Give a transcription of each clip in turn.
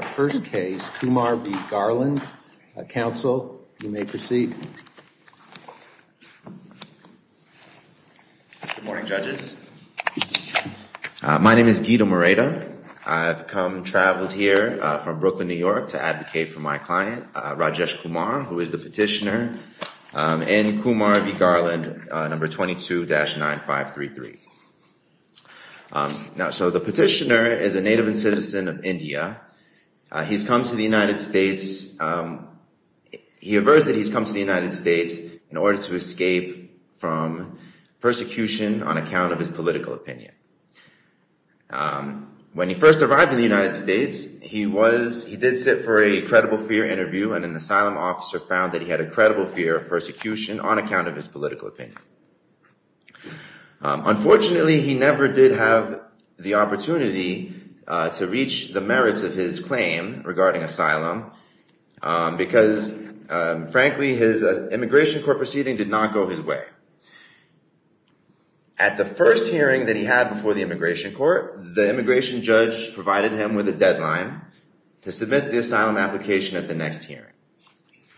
first case, Kumar v. Garland. Council, you may proceed. Good morning, judges. My name is Guido Moreta. I've come, traveled here from Brooklyn, New York to advocate for my client, Rajesh Kumar, who is the petitioner in Kumar v. Garland number 22-9533. Now, so the petitioner is a native and citizen of India. He's come to the United States. He aversed that he's come to the United States in order to escape from persecution on account of his political opinion. When he first arrived in the United States, he was, he did sit for a credible fear interview and an asylum officer found that he had a political opinion. Unfortunately, he never did have the opportunity to reach the merits of his claim regarding asylum because, frankly, his immigration court proceeding did not go his way. At the first hearing that he had before the immigration court, the immigration judge provided him with a deadline to submit the asylum application at the next hearing.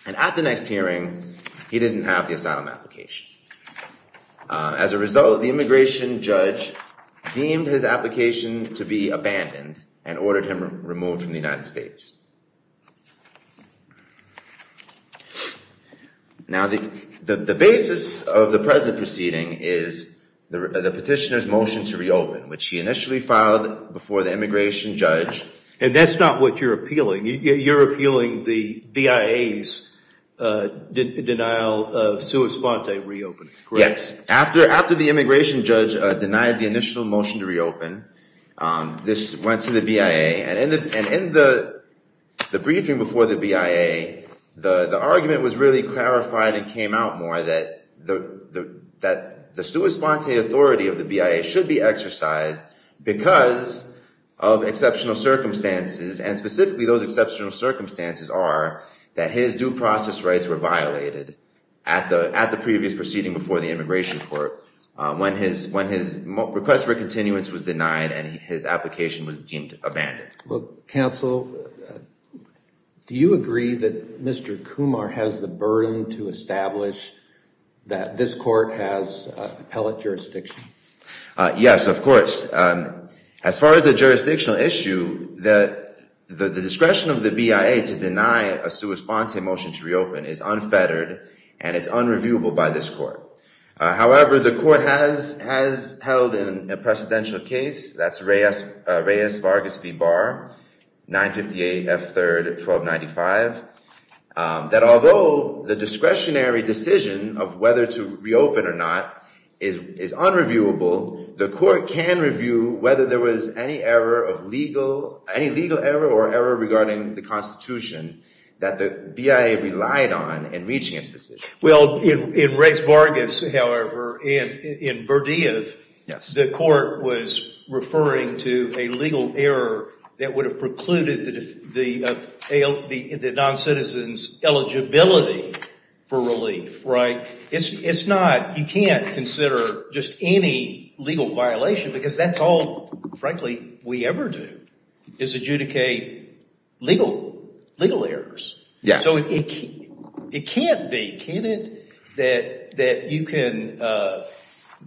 And at the next hearing, he didn't have the asylum application. As a result, the immigration judge deemed his application to be abandoned and ordered him removed from the United States. Now the basis of the present proceeding is the petitioner's motion to reopen, which he initially filed before the immigration judge. And that's not what you're appealing. You're appealing the BIA's denial of sua sponte reopening. Yes. After the immigration judge denied the initial motion to reopen, this went to the BIA. And in the briefing before the BIA, the argument was really clarified and came out more that the sua sponte authority of the BIA should be exercised because of exceptional circumstances are that his due process rights were violated at the previous proceeding before the immigration court when his request for continuance was denied and his application was deemed abandoned. Well, counsel, do you agree that Mr. Kumar has the burden to establish that this court has appellate jurisdiction? Yes, of course. As far as the jurisdictional issue, the discretion of the BIA to deny a sua sponte motion to reopen is unfettered and it's unreviewable by this court. However, the court has held in a precedential case, that's Reyes-Vargas v. Barr, 958 F. 3rd, 1295, that although the discretionary decision of whether to reopen or not is unreviewable, the court can review whether there was any error of legal, any legal error or error regarding the constitution that the BIA relied on in reaching its decision. Well, in Reyes-Vargas, however, in Berdiev, the court was referring to a legal error that would have precluded the non-citizen's eligibility for relief, right? It's not, you can't consider just any legal violation because that's all, frankly, we ever do is adjudicate legal errors. Yes. So it can't be, can it, that you can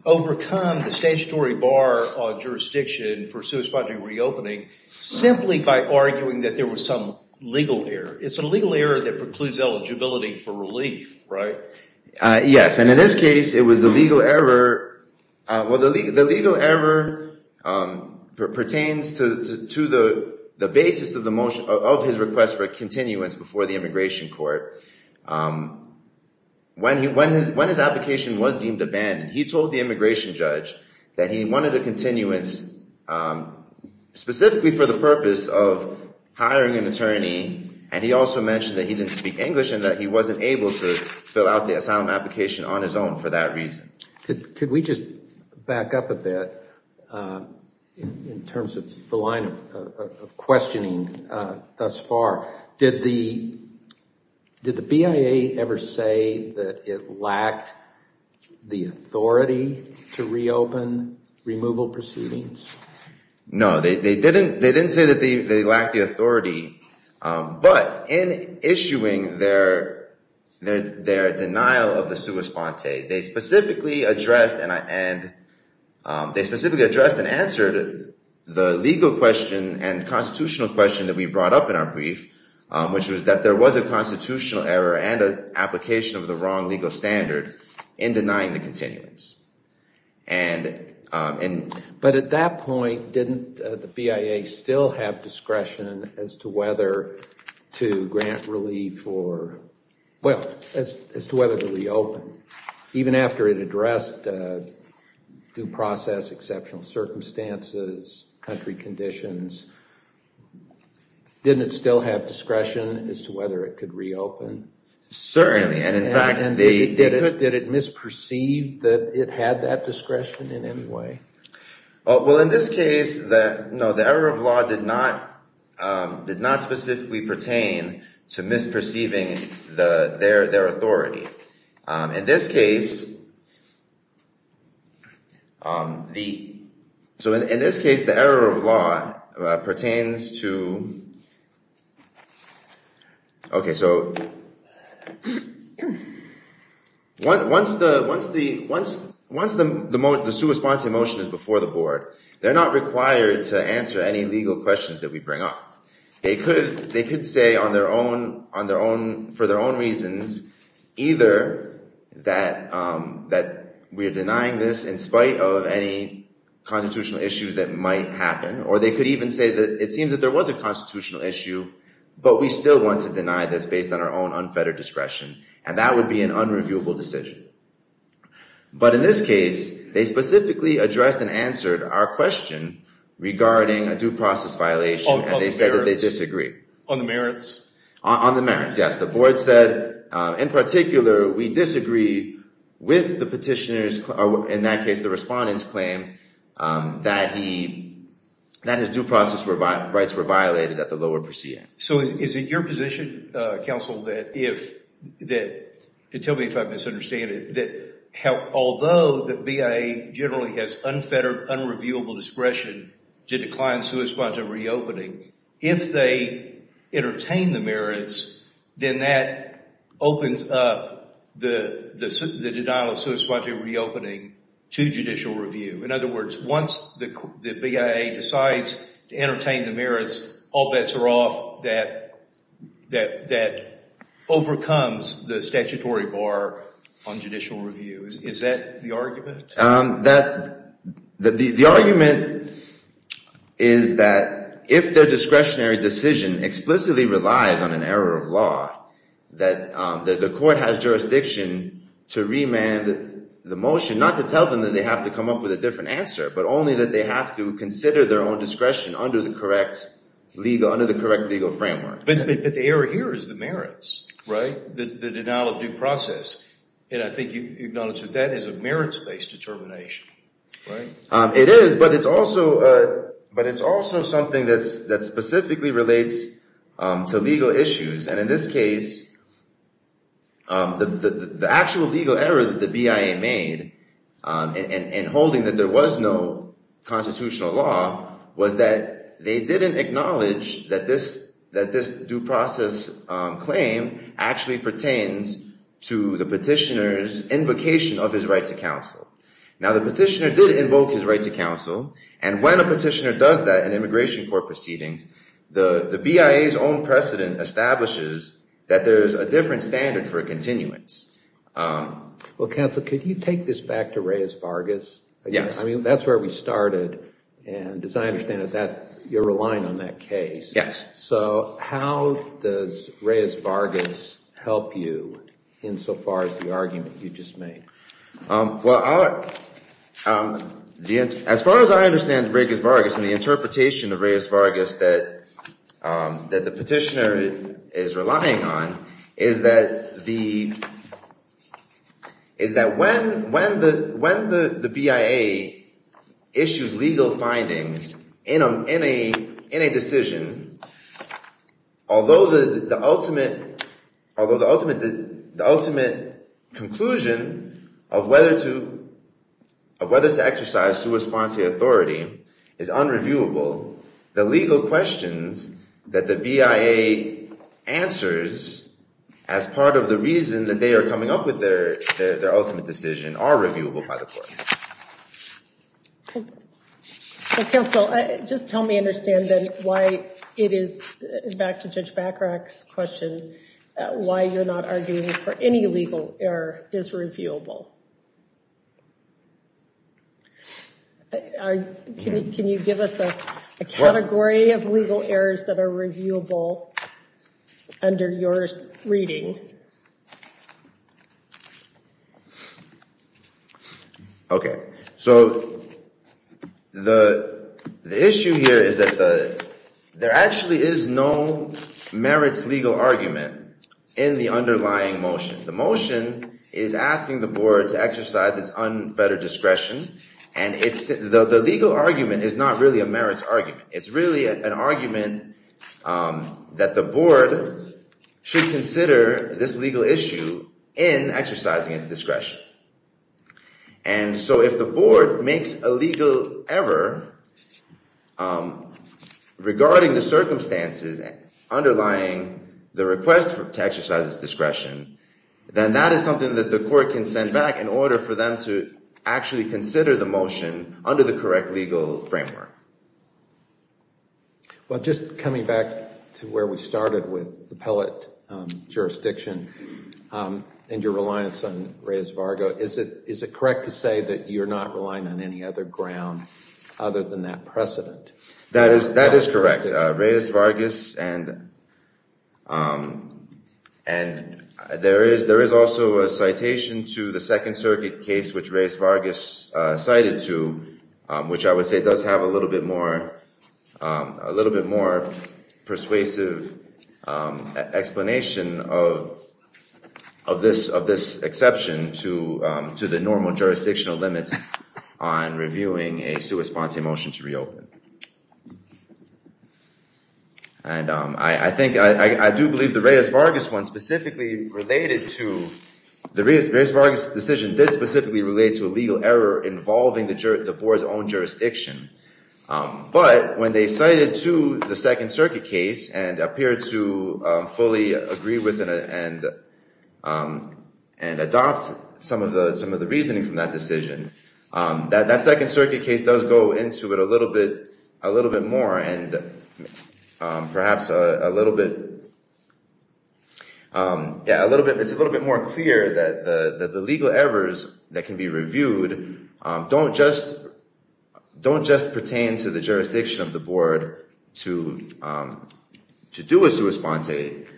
overcome the statutory bar on jurisdiction for sua simply by arguing that there was some legal error. It's a legal error that precludes eligibility for relief, right? Yes. And in this case, it was a legal error. Well, the legal error pertains to the basis of the motion, of his request for a continuance before the immigration court. When his application was deemed abandoned, he told the immigration judge that he wanted a continuance specifically for the purpose of hiring an attorney. And he also mentioned that he didn't speak English and that he wasn't able to fill out the asylum application on his own for that reason. Could we just back up a bit in terms of the line of questioning thus far? Did the BIA ever say that it lacked the authority to reopen removal proceedings? No, they didn't say that they lacked the authority. But in issuing their denial of the sua sponte, they specifically addressed and answered the legal question and constitutional question that we brought up in our brief, which was that there was a constitutional error and an application of the wrong legal standard in denying the continuance. But at that point, didn't the BIA still have discretion as to whether to grant relief for, well, as to whether to reopen? Even after it addressed due process, exceptional circumstances, country conditions, didn't it still have discretion as to whether it could reopen? Certainly. And in fact, they did it. Did it misperceive that it had that discretion in any way? Well, in this case, no, the error of law did not specifically pertain to misperceiving their authority. In this case, the error of law pertains to, okay, so the error of law pertains to misperceiving their authority. Once the sua sponte motion is before the board, they're not required to answer any legal questions that we bring up. They could say for their own reasons, either that we're denying this in spite of any constitutional issues that might happen, or they could even say that it seems that there was a constitutional issue, but we still want to deny this based on our own unfettered discretion, and that would be an unreviewable decision. But in this case, they specifically addressed and answered our question regarding a due process violation, and they said that they disagree. On the merits? On the merits, yes. The board said, in particular, we disagree with the petitioner's, or in that case, the petitioner's, position. Is it your position, counsel, that if... Tell me if I'm misunderstanding it, that although the BIA generally has unfettered, unreviewable discretion to decline sua sponte reopening, if they entertain the merits, then that opens up the denial of sua sponte reopening to judicial review. In other words, once the BIA decides to entertain the merits, all bets are off that overcomes the statutory bar on judicial review. Is that the argument? The argument is that if their discretionary decision explicitly relies on an error of law, that the court has jurisdiction to remand the motion, not to tell them that they have to come up with a different answer, but only that they have to consider their own discretion under the correct legal framework. But the error here is the merits, the denial of due process. And I think you acknowledge that that is a merits-based determination, right? It is, but it's also something that specifically relates to legal issues. And in this case, the actual legal error that the BIA made in holding that there was no constitutional law was that they didn't acknowledge that this due process claim actually pertains to the petitioner's invocation of his right to counsel. Now the petitioner did invoke his right to counsel, and when a petitioner does that in court, there's a different standard for a continuance. Well, counsel, could you take this back to Reyes-Vargas? Yes. I mean, that's where we started, and as I understand it, you're relying on that case. Yes. So how does Reyes-Vargas help you insofar as the argument you just made? As far as I understand Reyes-Vargas and the interpretation of Reyes-Vargas that the petitioner is relying on, is that when the BIA issues legal findings in a decision, although the ultimate conclusion of whether to exercise sua sponsae authority is unreviewable, the BIA answers as part of the reason that they are coming up with their ultimate decision are reviewable by the court. Okay. Well, counsel, just help me understand then why it is, back to Judge Bacharach's question, why you're not arguing for any legal error is reviewable. Can you give us a category of legal errors that are reviewable under your reading? Okay. So the issue here is that there actually is no merits legal argument in the underlying motion. The motion is asking the board to exercise its unfettered discretion, and the legal argument is not really a merits argument. It's really an argument that the board should consider this legal issue in exercising its discretion. And so if the board makes a legal error regarding the circumstances underlying the request to the board, then that is something that the court can send back in order for them to actually consider the motion under the correct legal framework. Well, just coming back to where we started with the Pellet jurisdiction and your reliance on Reyes-Vargo, is it correct to say that you're not relying on any other ground other than that precedent? That is correct. And there is also a citation to the Second Circuit case which Reyes-Vargo cited to, which I would say does have a little bit more persuasive explanation of this exception to the normal jurisdictional limits on reviewing a sua sponte motion to reopen. And I think, I do believe the Reyes-Vargo decision did specifically relate to a legal error involving the board's own jurisdiction, but when they cited to the Second Circuit case and appeared to fully agree with and adopt some of the reasoning from that case, from that decision, that Second Circuit case does go into it a little bit more and perhaps a little bit, yeah, it's a little bit more clear that the legal errors that can be reviewed don't just pertain to the jurisdiction of the board to do a sua sponte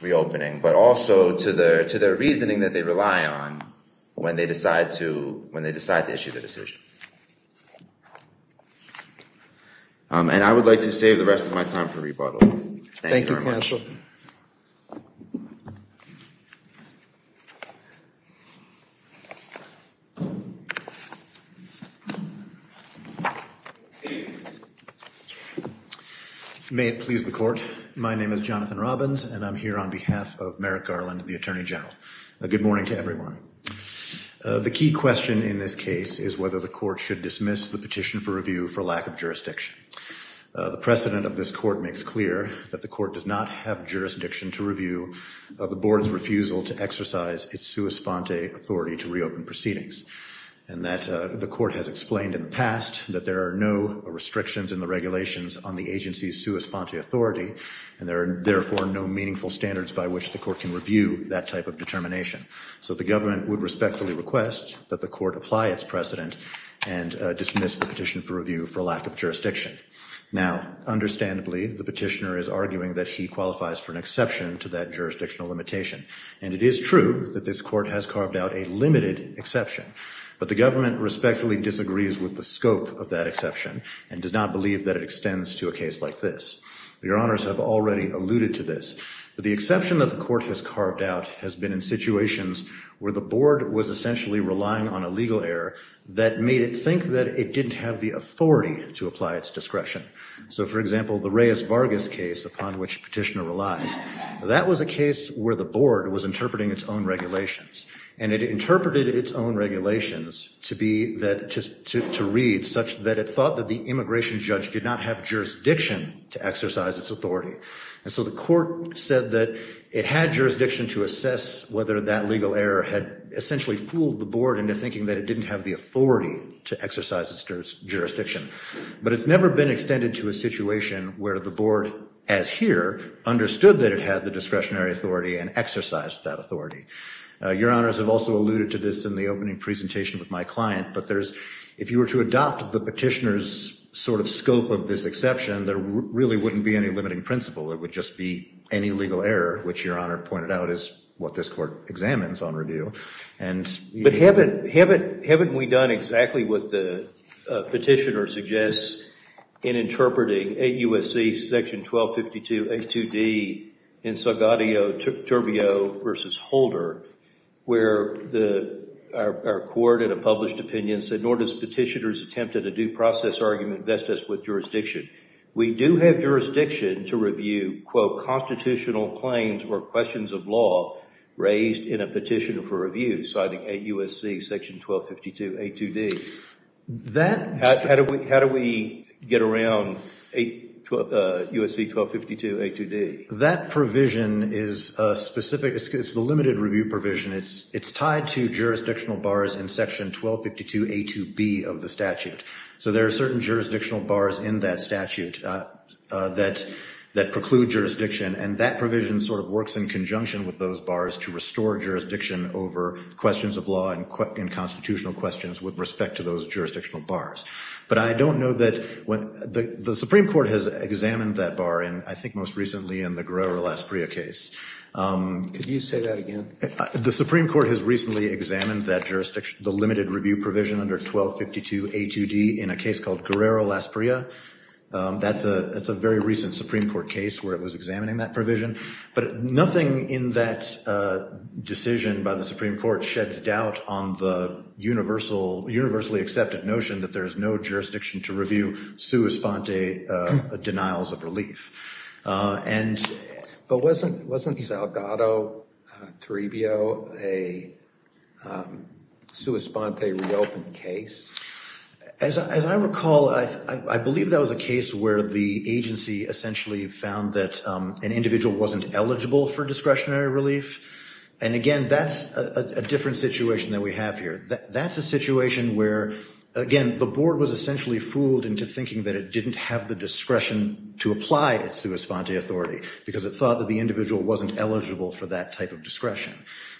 reopening, but also to their reasoning that they rely on when they decide to issue the decision. And I would like to save the rest of my time for rebuttal. Thank you, counsel. May it please the court. My name is Jonathan Robbins and I'm here on behalf of Merrick Garland, the Attorney General. Good morning to everyone. The key question in this case is whether the court should dismiss the petition for review for lack of jurisdiction. The precedent of this court makes clear that the court does not have jurisdiction to review the board's refusal to exercise its sua sponte authority to reopen proceedings and that the court has explained in the past that there are no restrictions in the regulations on the agency's sua sponte authority and there are therefore no meaningful standards by which the court can review that type of determination. So the government would respectfully request that the court apply its precedent and dismiss the petition for review for lack of jurisdiction. Now, understandably, the petitioner is arguing that he qualifies for an exception to that jurisdictional limitation and it is true that this court has carved out a limited exception, but the government respectfully disagrees with the scope of that exception and does not believe that it extends to a case like this. Your honors have already alluded to this, but the exception that the court has carved out has been in situations where the board was essentially relying on a legal error that made it think that it didn't have the authority to apply its discretion. So for example, the Reyes-Vargas case upon which petitioner relies, that was a case where the board was interpreting its own regulations and it interpreted its own regulations to be that, to read such that it thought that the immigration judge did not have jurisdiction to exercise its authority. And so the court said that it had jurisdiction to assess whether that legal error had essentially fooled the board into thinking that it didn't have the authority to exercise its jurisdiction. But it's never been extended to a situation where the board, as here, understood that it had the discretionary authority and exercised that authority. Your honors have also alluded to this in the opening presentation with my client, but there's, if you were to adopt the petitioner's sort of scope of this exception, there really wouldn't be any limiting principle. It would just be any legal error, which your court examines on review. But haven't we done exactly what the petitioner suggests in interpreting 8 U.S.C. section 1252 A.2.D. in Salgadio-Turbio v. Holder, where our court in a published opinion said, nor does petitioner's attempt at a due process argument vest us with jurisdiction. We do have jurisdiction to review, quote, constitutional claims or questions of law raised in a petition for review, citing 8 U.S.C. section 1252 A.2.D. How do we get around 8 U.S.C. 1252 A.2.D.? That provision is specific. It's the limited review provision. It's tied to jurisdictional bars in section 1252 A.2.B. of the statute. So there are certain jurisdictional bars in that statute that preclude jurisdiction, and that provision sort of works in conjunction with those bars to restore jurisdiction over questions of law and constitutional questions with respect to those jurisdictional bars. But I don't know that the Supreme Court has examined that bar, and I think most recently in the Guerrero-Lasprilla case. Could you say that again? The Supreme Court has recently examined that jurisdiction, the limited review provision under 1252 A.2.D. in a case called Guerrero-Lasprilla. That's a very recent Supreme Court case where it was examining that provision. But nothing in that decision by the Supreme Court sheds doubt on the universally accepted notion that there is no jurisdiction to review sua sponte denials of relief. But wasn't Salgado-Taribio a sua sponte reopened case? As I recall, I believe that was a case where the agency essentially found that an individual wasn't eligible for discretionary relief. And again, that's a different situation that we have here. That's a situation where, again, the Board was essentially fooled into thinking that it didn't have the discretion to apply its sua sponte authority because it thought that the individual wasn't eligible for that type of discretion.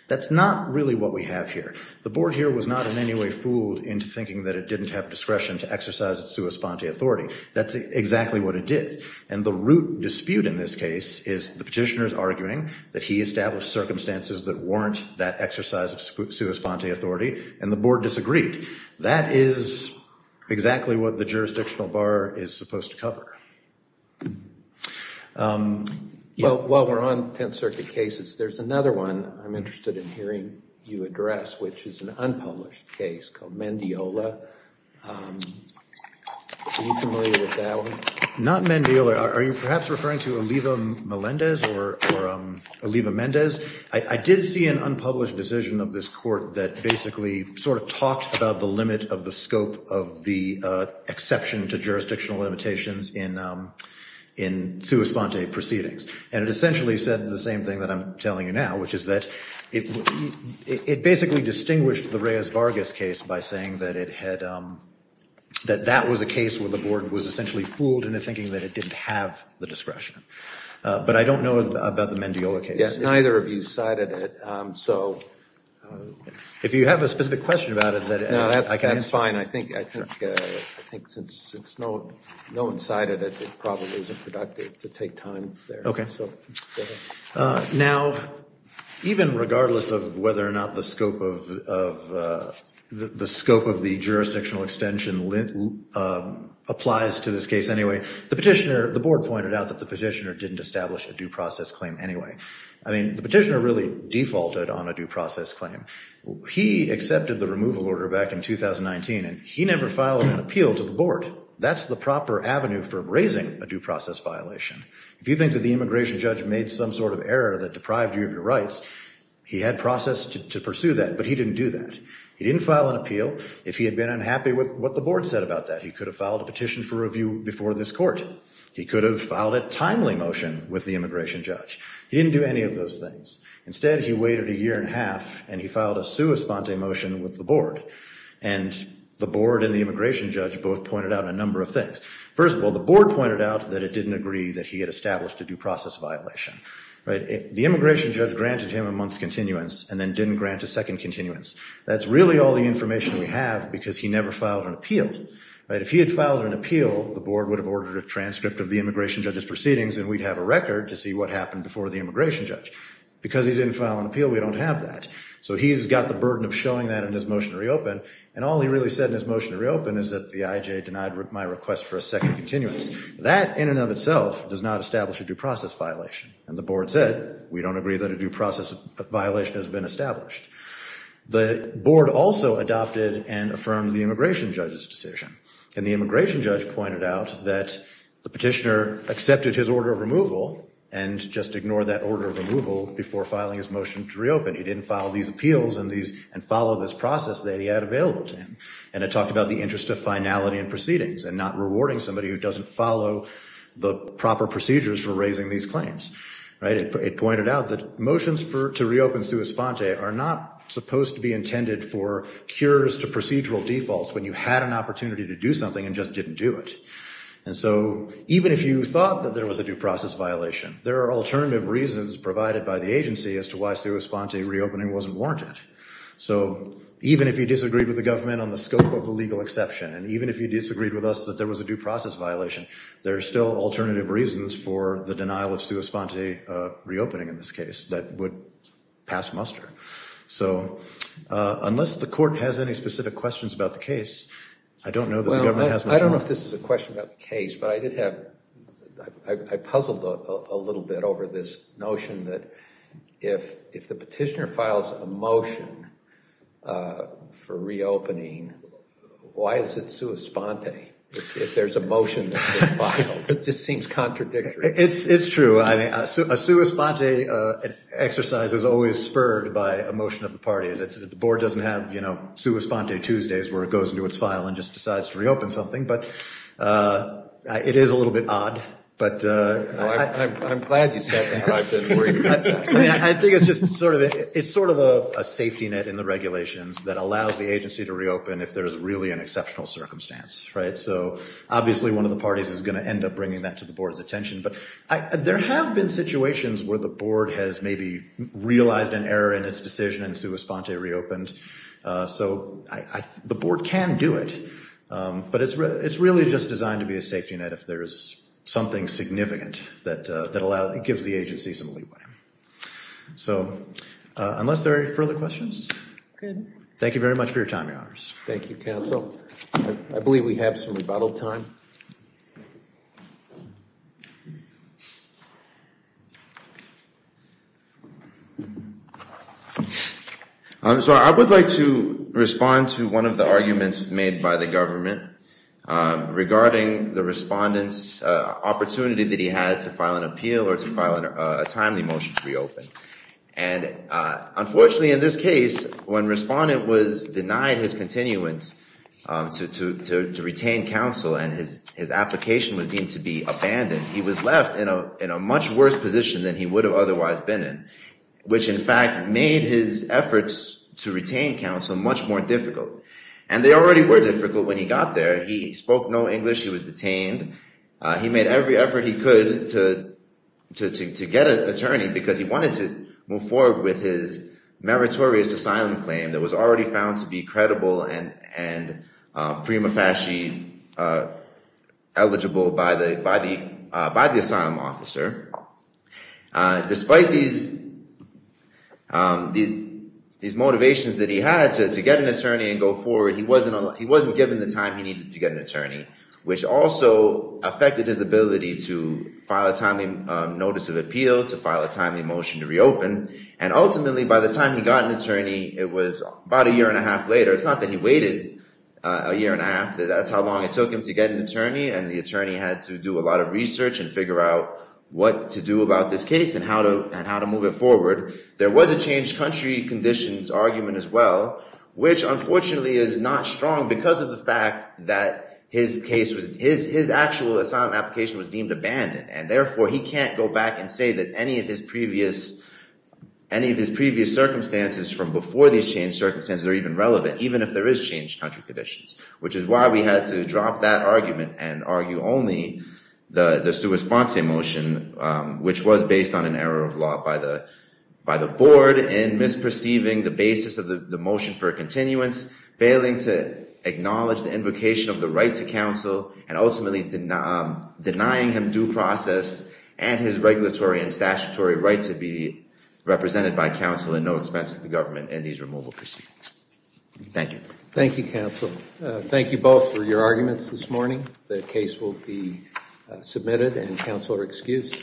That's not really what we have here. The Board here was not in any way fooled into thinking that it didn't have discretion to exercise its sua sponte authority. That's exactly what it did. And the root dispute in this case is the petitioners arguing that he established circumstances that warrant that exercise of sua sponte authority and the Board disagreed. That is exactly what the jurisdictional bar is supposed to cover. While we're on Tenth Circuit cases, there's another one I'm interested in hearing you Are you familiar with that one? Not Mendiel. Are you perhaps referring to Oliva Melendez or Oliva Mendez? I did see an unpublished decision of this court that basically sort of talked about the limit of the scope of the exception to jurisdictional limitations in sua sponte proceedings. And it essentially said the same thing that I'm telling you now, which is that it basically distinguished the Reyes-Vargas case by saying that it had that was a case where the Board was essentially fooled into thinking that it didn't have the discretion. But I don't know about the Mendiola case. Yes, neither of you cited it. So if you have a specific question about it, I can answer it. No, that's fine. I think since no one cited it, it probably isn't productive to take time there. Okay. Now, even regardless of whether or not the scope of the scope of the jurisdictional extension applies to this case anyway, the petitioner, the Board pointed out that the petitioner didn't establish a due process claim anyway. I mean, the petitioner really defaulted on a due process claim. He accepted the removal order back in 2019, and he never filed an appeal to the Board. That's the proper avenue for raising a due process violation. If you think that the immigration judge made some sort of error that deprived you of your rights, he had process to pursue that, but he didn't do that. He didn't file an appeal if he had been unhappy with what the Board said about that. He could have filed a petition for review before this Court. He could have filed a timely motion with the immigration judge. He didn't do any of those things. Instead, he waited a year and a half, and he filed a sua sponte motion with the Board. And the Board and the immigration judge both pointed out a number of things. First of all, the Board pointed out that it didn't agree that he had established a due process violation, right? The immigration judge granted him a month's continuance and then didn't grant a second continuance. That's really all the information we have because he never filed an appeal, right? If he had filed an appeal, the Board would have ordered a transcript of the immigration judge's proceedings, and we'd have a record to see what happened before the immigration judge. Because he didn't file an appeal, we don't have that. So he's got the burden of showing that in his motion to reopen, and all he really said in his motion to reopen is that the IJ denied my request for a second continuance. That in and of itself does not establish a due process violation. And the Board said, we don't agree that a due process violation has been established. The Board also adopted and affirmed the immigration judge's decision. And the immigration judge pointed out that the petitioner accepted his order of removal and just ignored that order of removal before filing his motion to reopen. He didn't file these appeals and follow this process that he had available to him. And it talked about the interest of finality in proceedings and not rewarding somebody who doesn't follow the proper procedures for raising these claims, right? It pointed out that motions to reopen sui sponte are not supposed to be intended for cures to procedural defaults when you had an opportunity to do something and just didn't do it. And so even if you thought that there was a due process violation, there are alternative reasons provided by the agency as to why sui sponte reopening wasn't warranted. So even if you disagreed with the government on the scope of the legal exception, and even if you disagreed with us that there was a due process violation, there are still alternative reasons for the denial of sui sponte reopening in this case that would pass muster. So unless the court has any specific questions about the case, I don't know that the government has much more. Well, I don't know if this is a question about the case, but I did have, I puzzled a little bit over this notion that if the petitioner files a motion for reopening, why is it sui sponte if there's a motion that's been filed? It just seems contradictory. It's true. I mean, a sui sponte exercise is always spurred by a motion of the parties. The board doesn't have, you know, sui sponte Tuesdays where it goes into its file and just decides to reopen something. But it is a little bit odd. Well, I'm glad you said that. I didn't worry about that. I mean, I think it's just sort of a safety net in the regulations that allows the agency to reopen if there's really an exceptional circumstance, right? So obviously, one of the parties is going to end up bringing that to the board's attention. But there have been situations where the board has maybe realized an error in its decision and sui sponte reopened. So the board can do it, but it's really just designed to be a safety net if there's something significant that gives the agency some leeway. So unless there are any further questions, thank you very much for your time, Your Honors. Thank you, Counsel. I believe we have some rebuttal time. I'm sorry. I would like to respond to one of the arguments made by the government regarding the respondent's opportunity that he had to file an appeal or to file a timely motion to reopen. And unfortunately, in this case, when respondent was denied his continuance to retain counsel and his application was deemed to be abandoned, he was left in a much worse position than he would have otherwise been in, which, in fact, made his efforts to retain counsel much more difficult. And they already were difficult when he got there. He spoke no English. He was detained. He made every effort he could to get an attorney because he wanted to move forward with his meritorious asylum claim that was already found to be credible and prima facie eligible by the asylum officer. Despite these motivations that he had to get an attorney and go forward, he wasn't given the time he needed to get an attorney, which also affected his ability to file a timely notice of appeal, to file a timely motion to reopen. And ultimately, by the time he got an attorney, it was about a year and a half later. It's not that he waited a year and a half. That's how long it took him to get an attorney. And the attorney had to do a lot of research and figure out what to do about this case and how to move it forward. There was a changed country conditions argument as well, which, unfortunately, is not strong because of the fact that his actual asylum application was deemed abandoned. And therefore, he can't go back and say that any of his previous circumstances from before these changed circumstances are even relevant, even if there is changed country conditions, which is why we had to drop that argument and argue only the sua sponsae motion, which was based on an error of law by the board in misperceiving the basis of the motion for a continuance, failing to acknowledge the invocation of the right to counsel, and ultimately denying him due process and his regulatory and statutory right to be represented by counsel at no expense to the government in these removal proceedings. Thank you. Thank you, counsel. Thank you both for your arguments this morning. The case will be submitted and counsel are excused.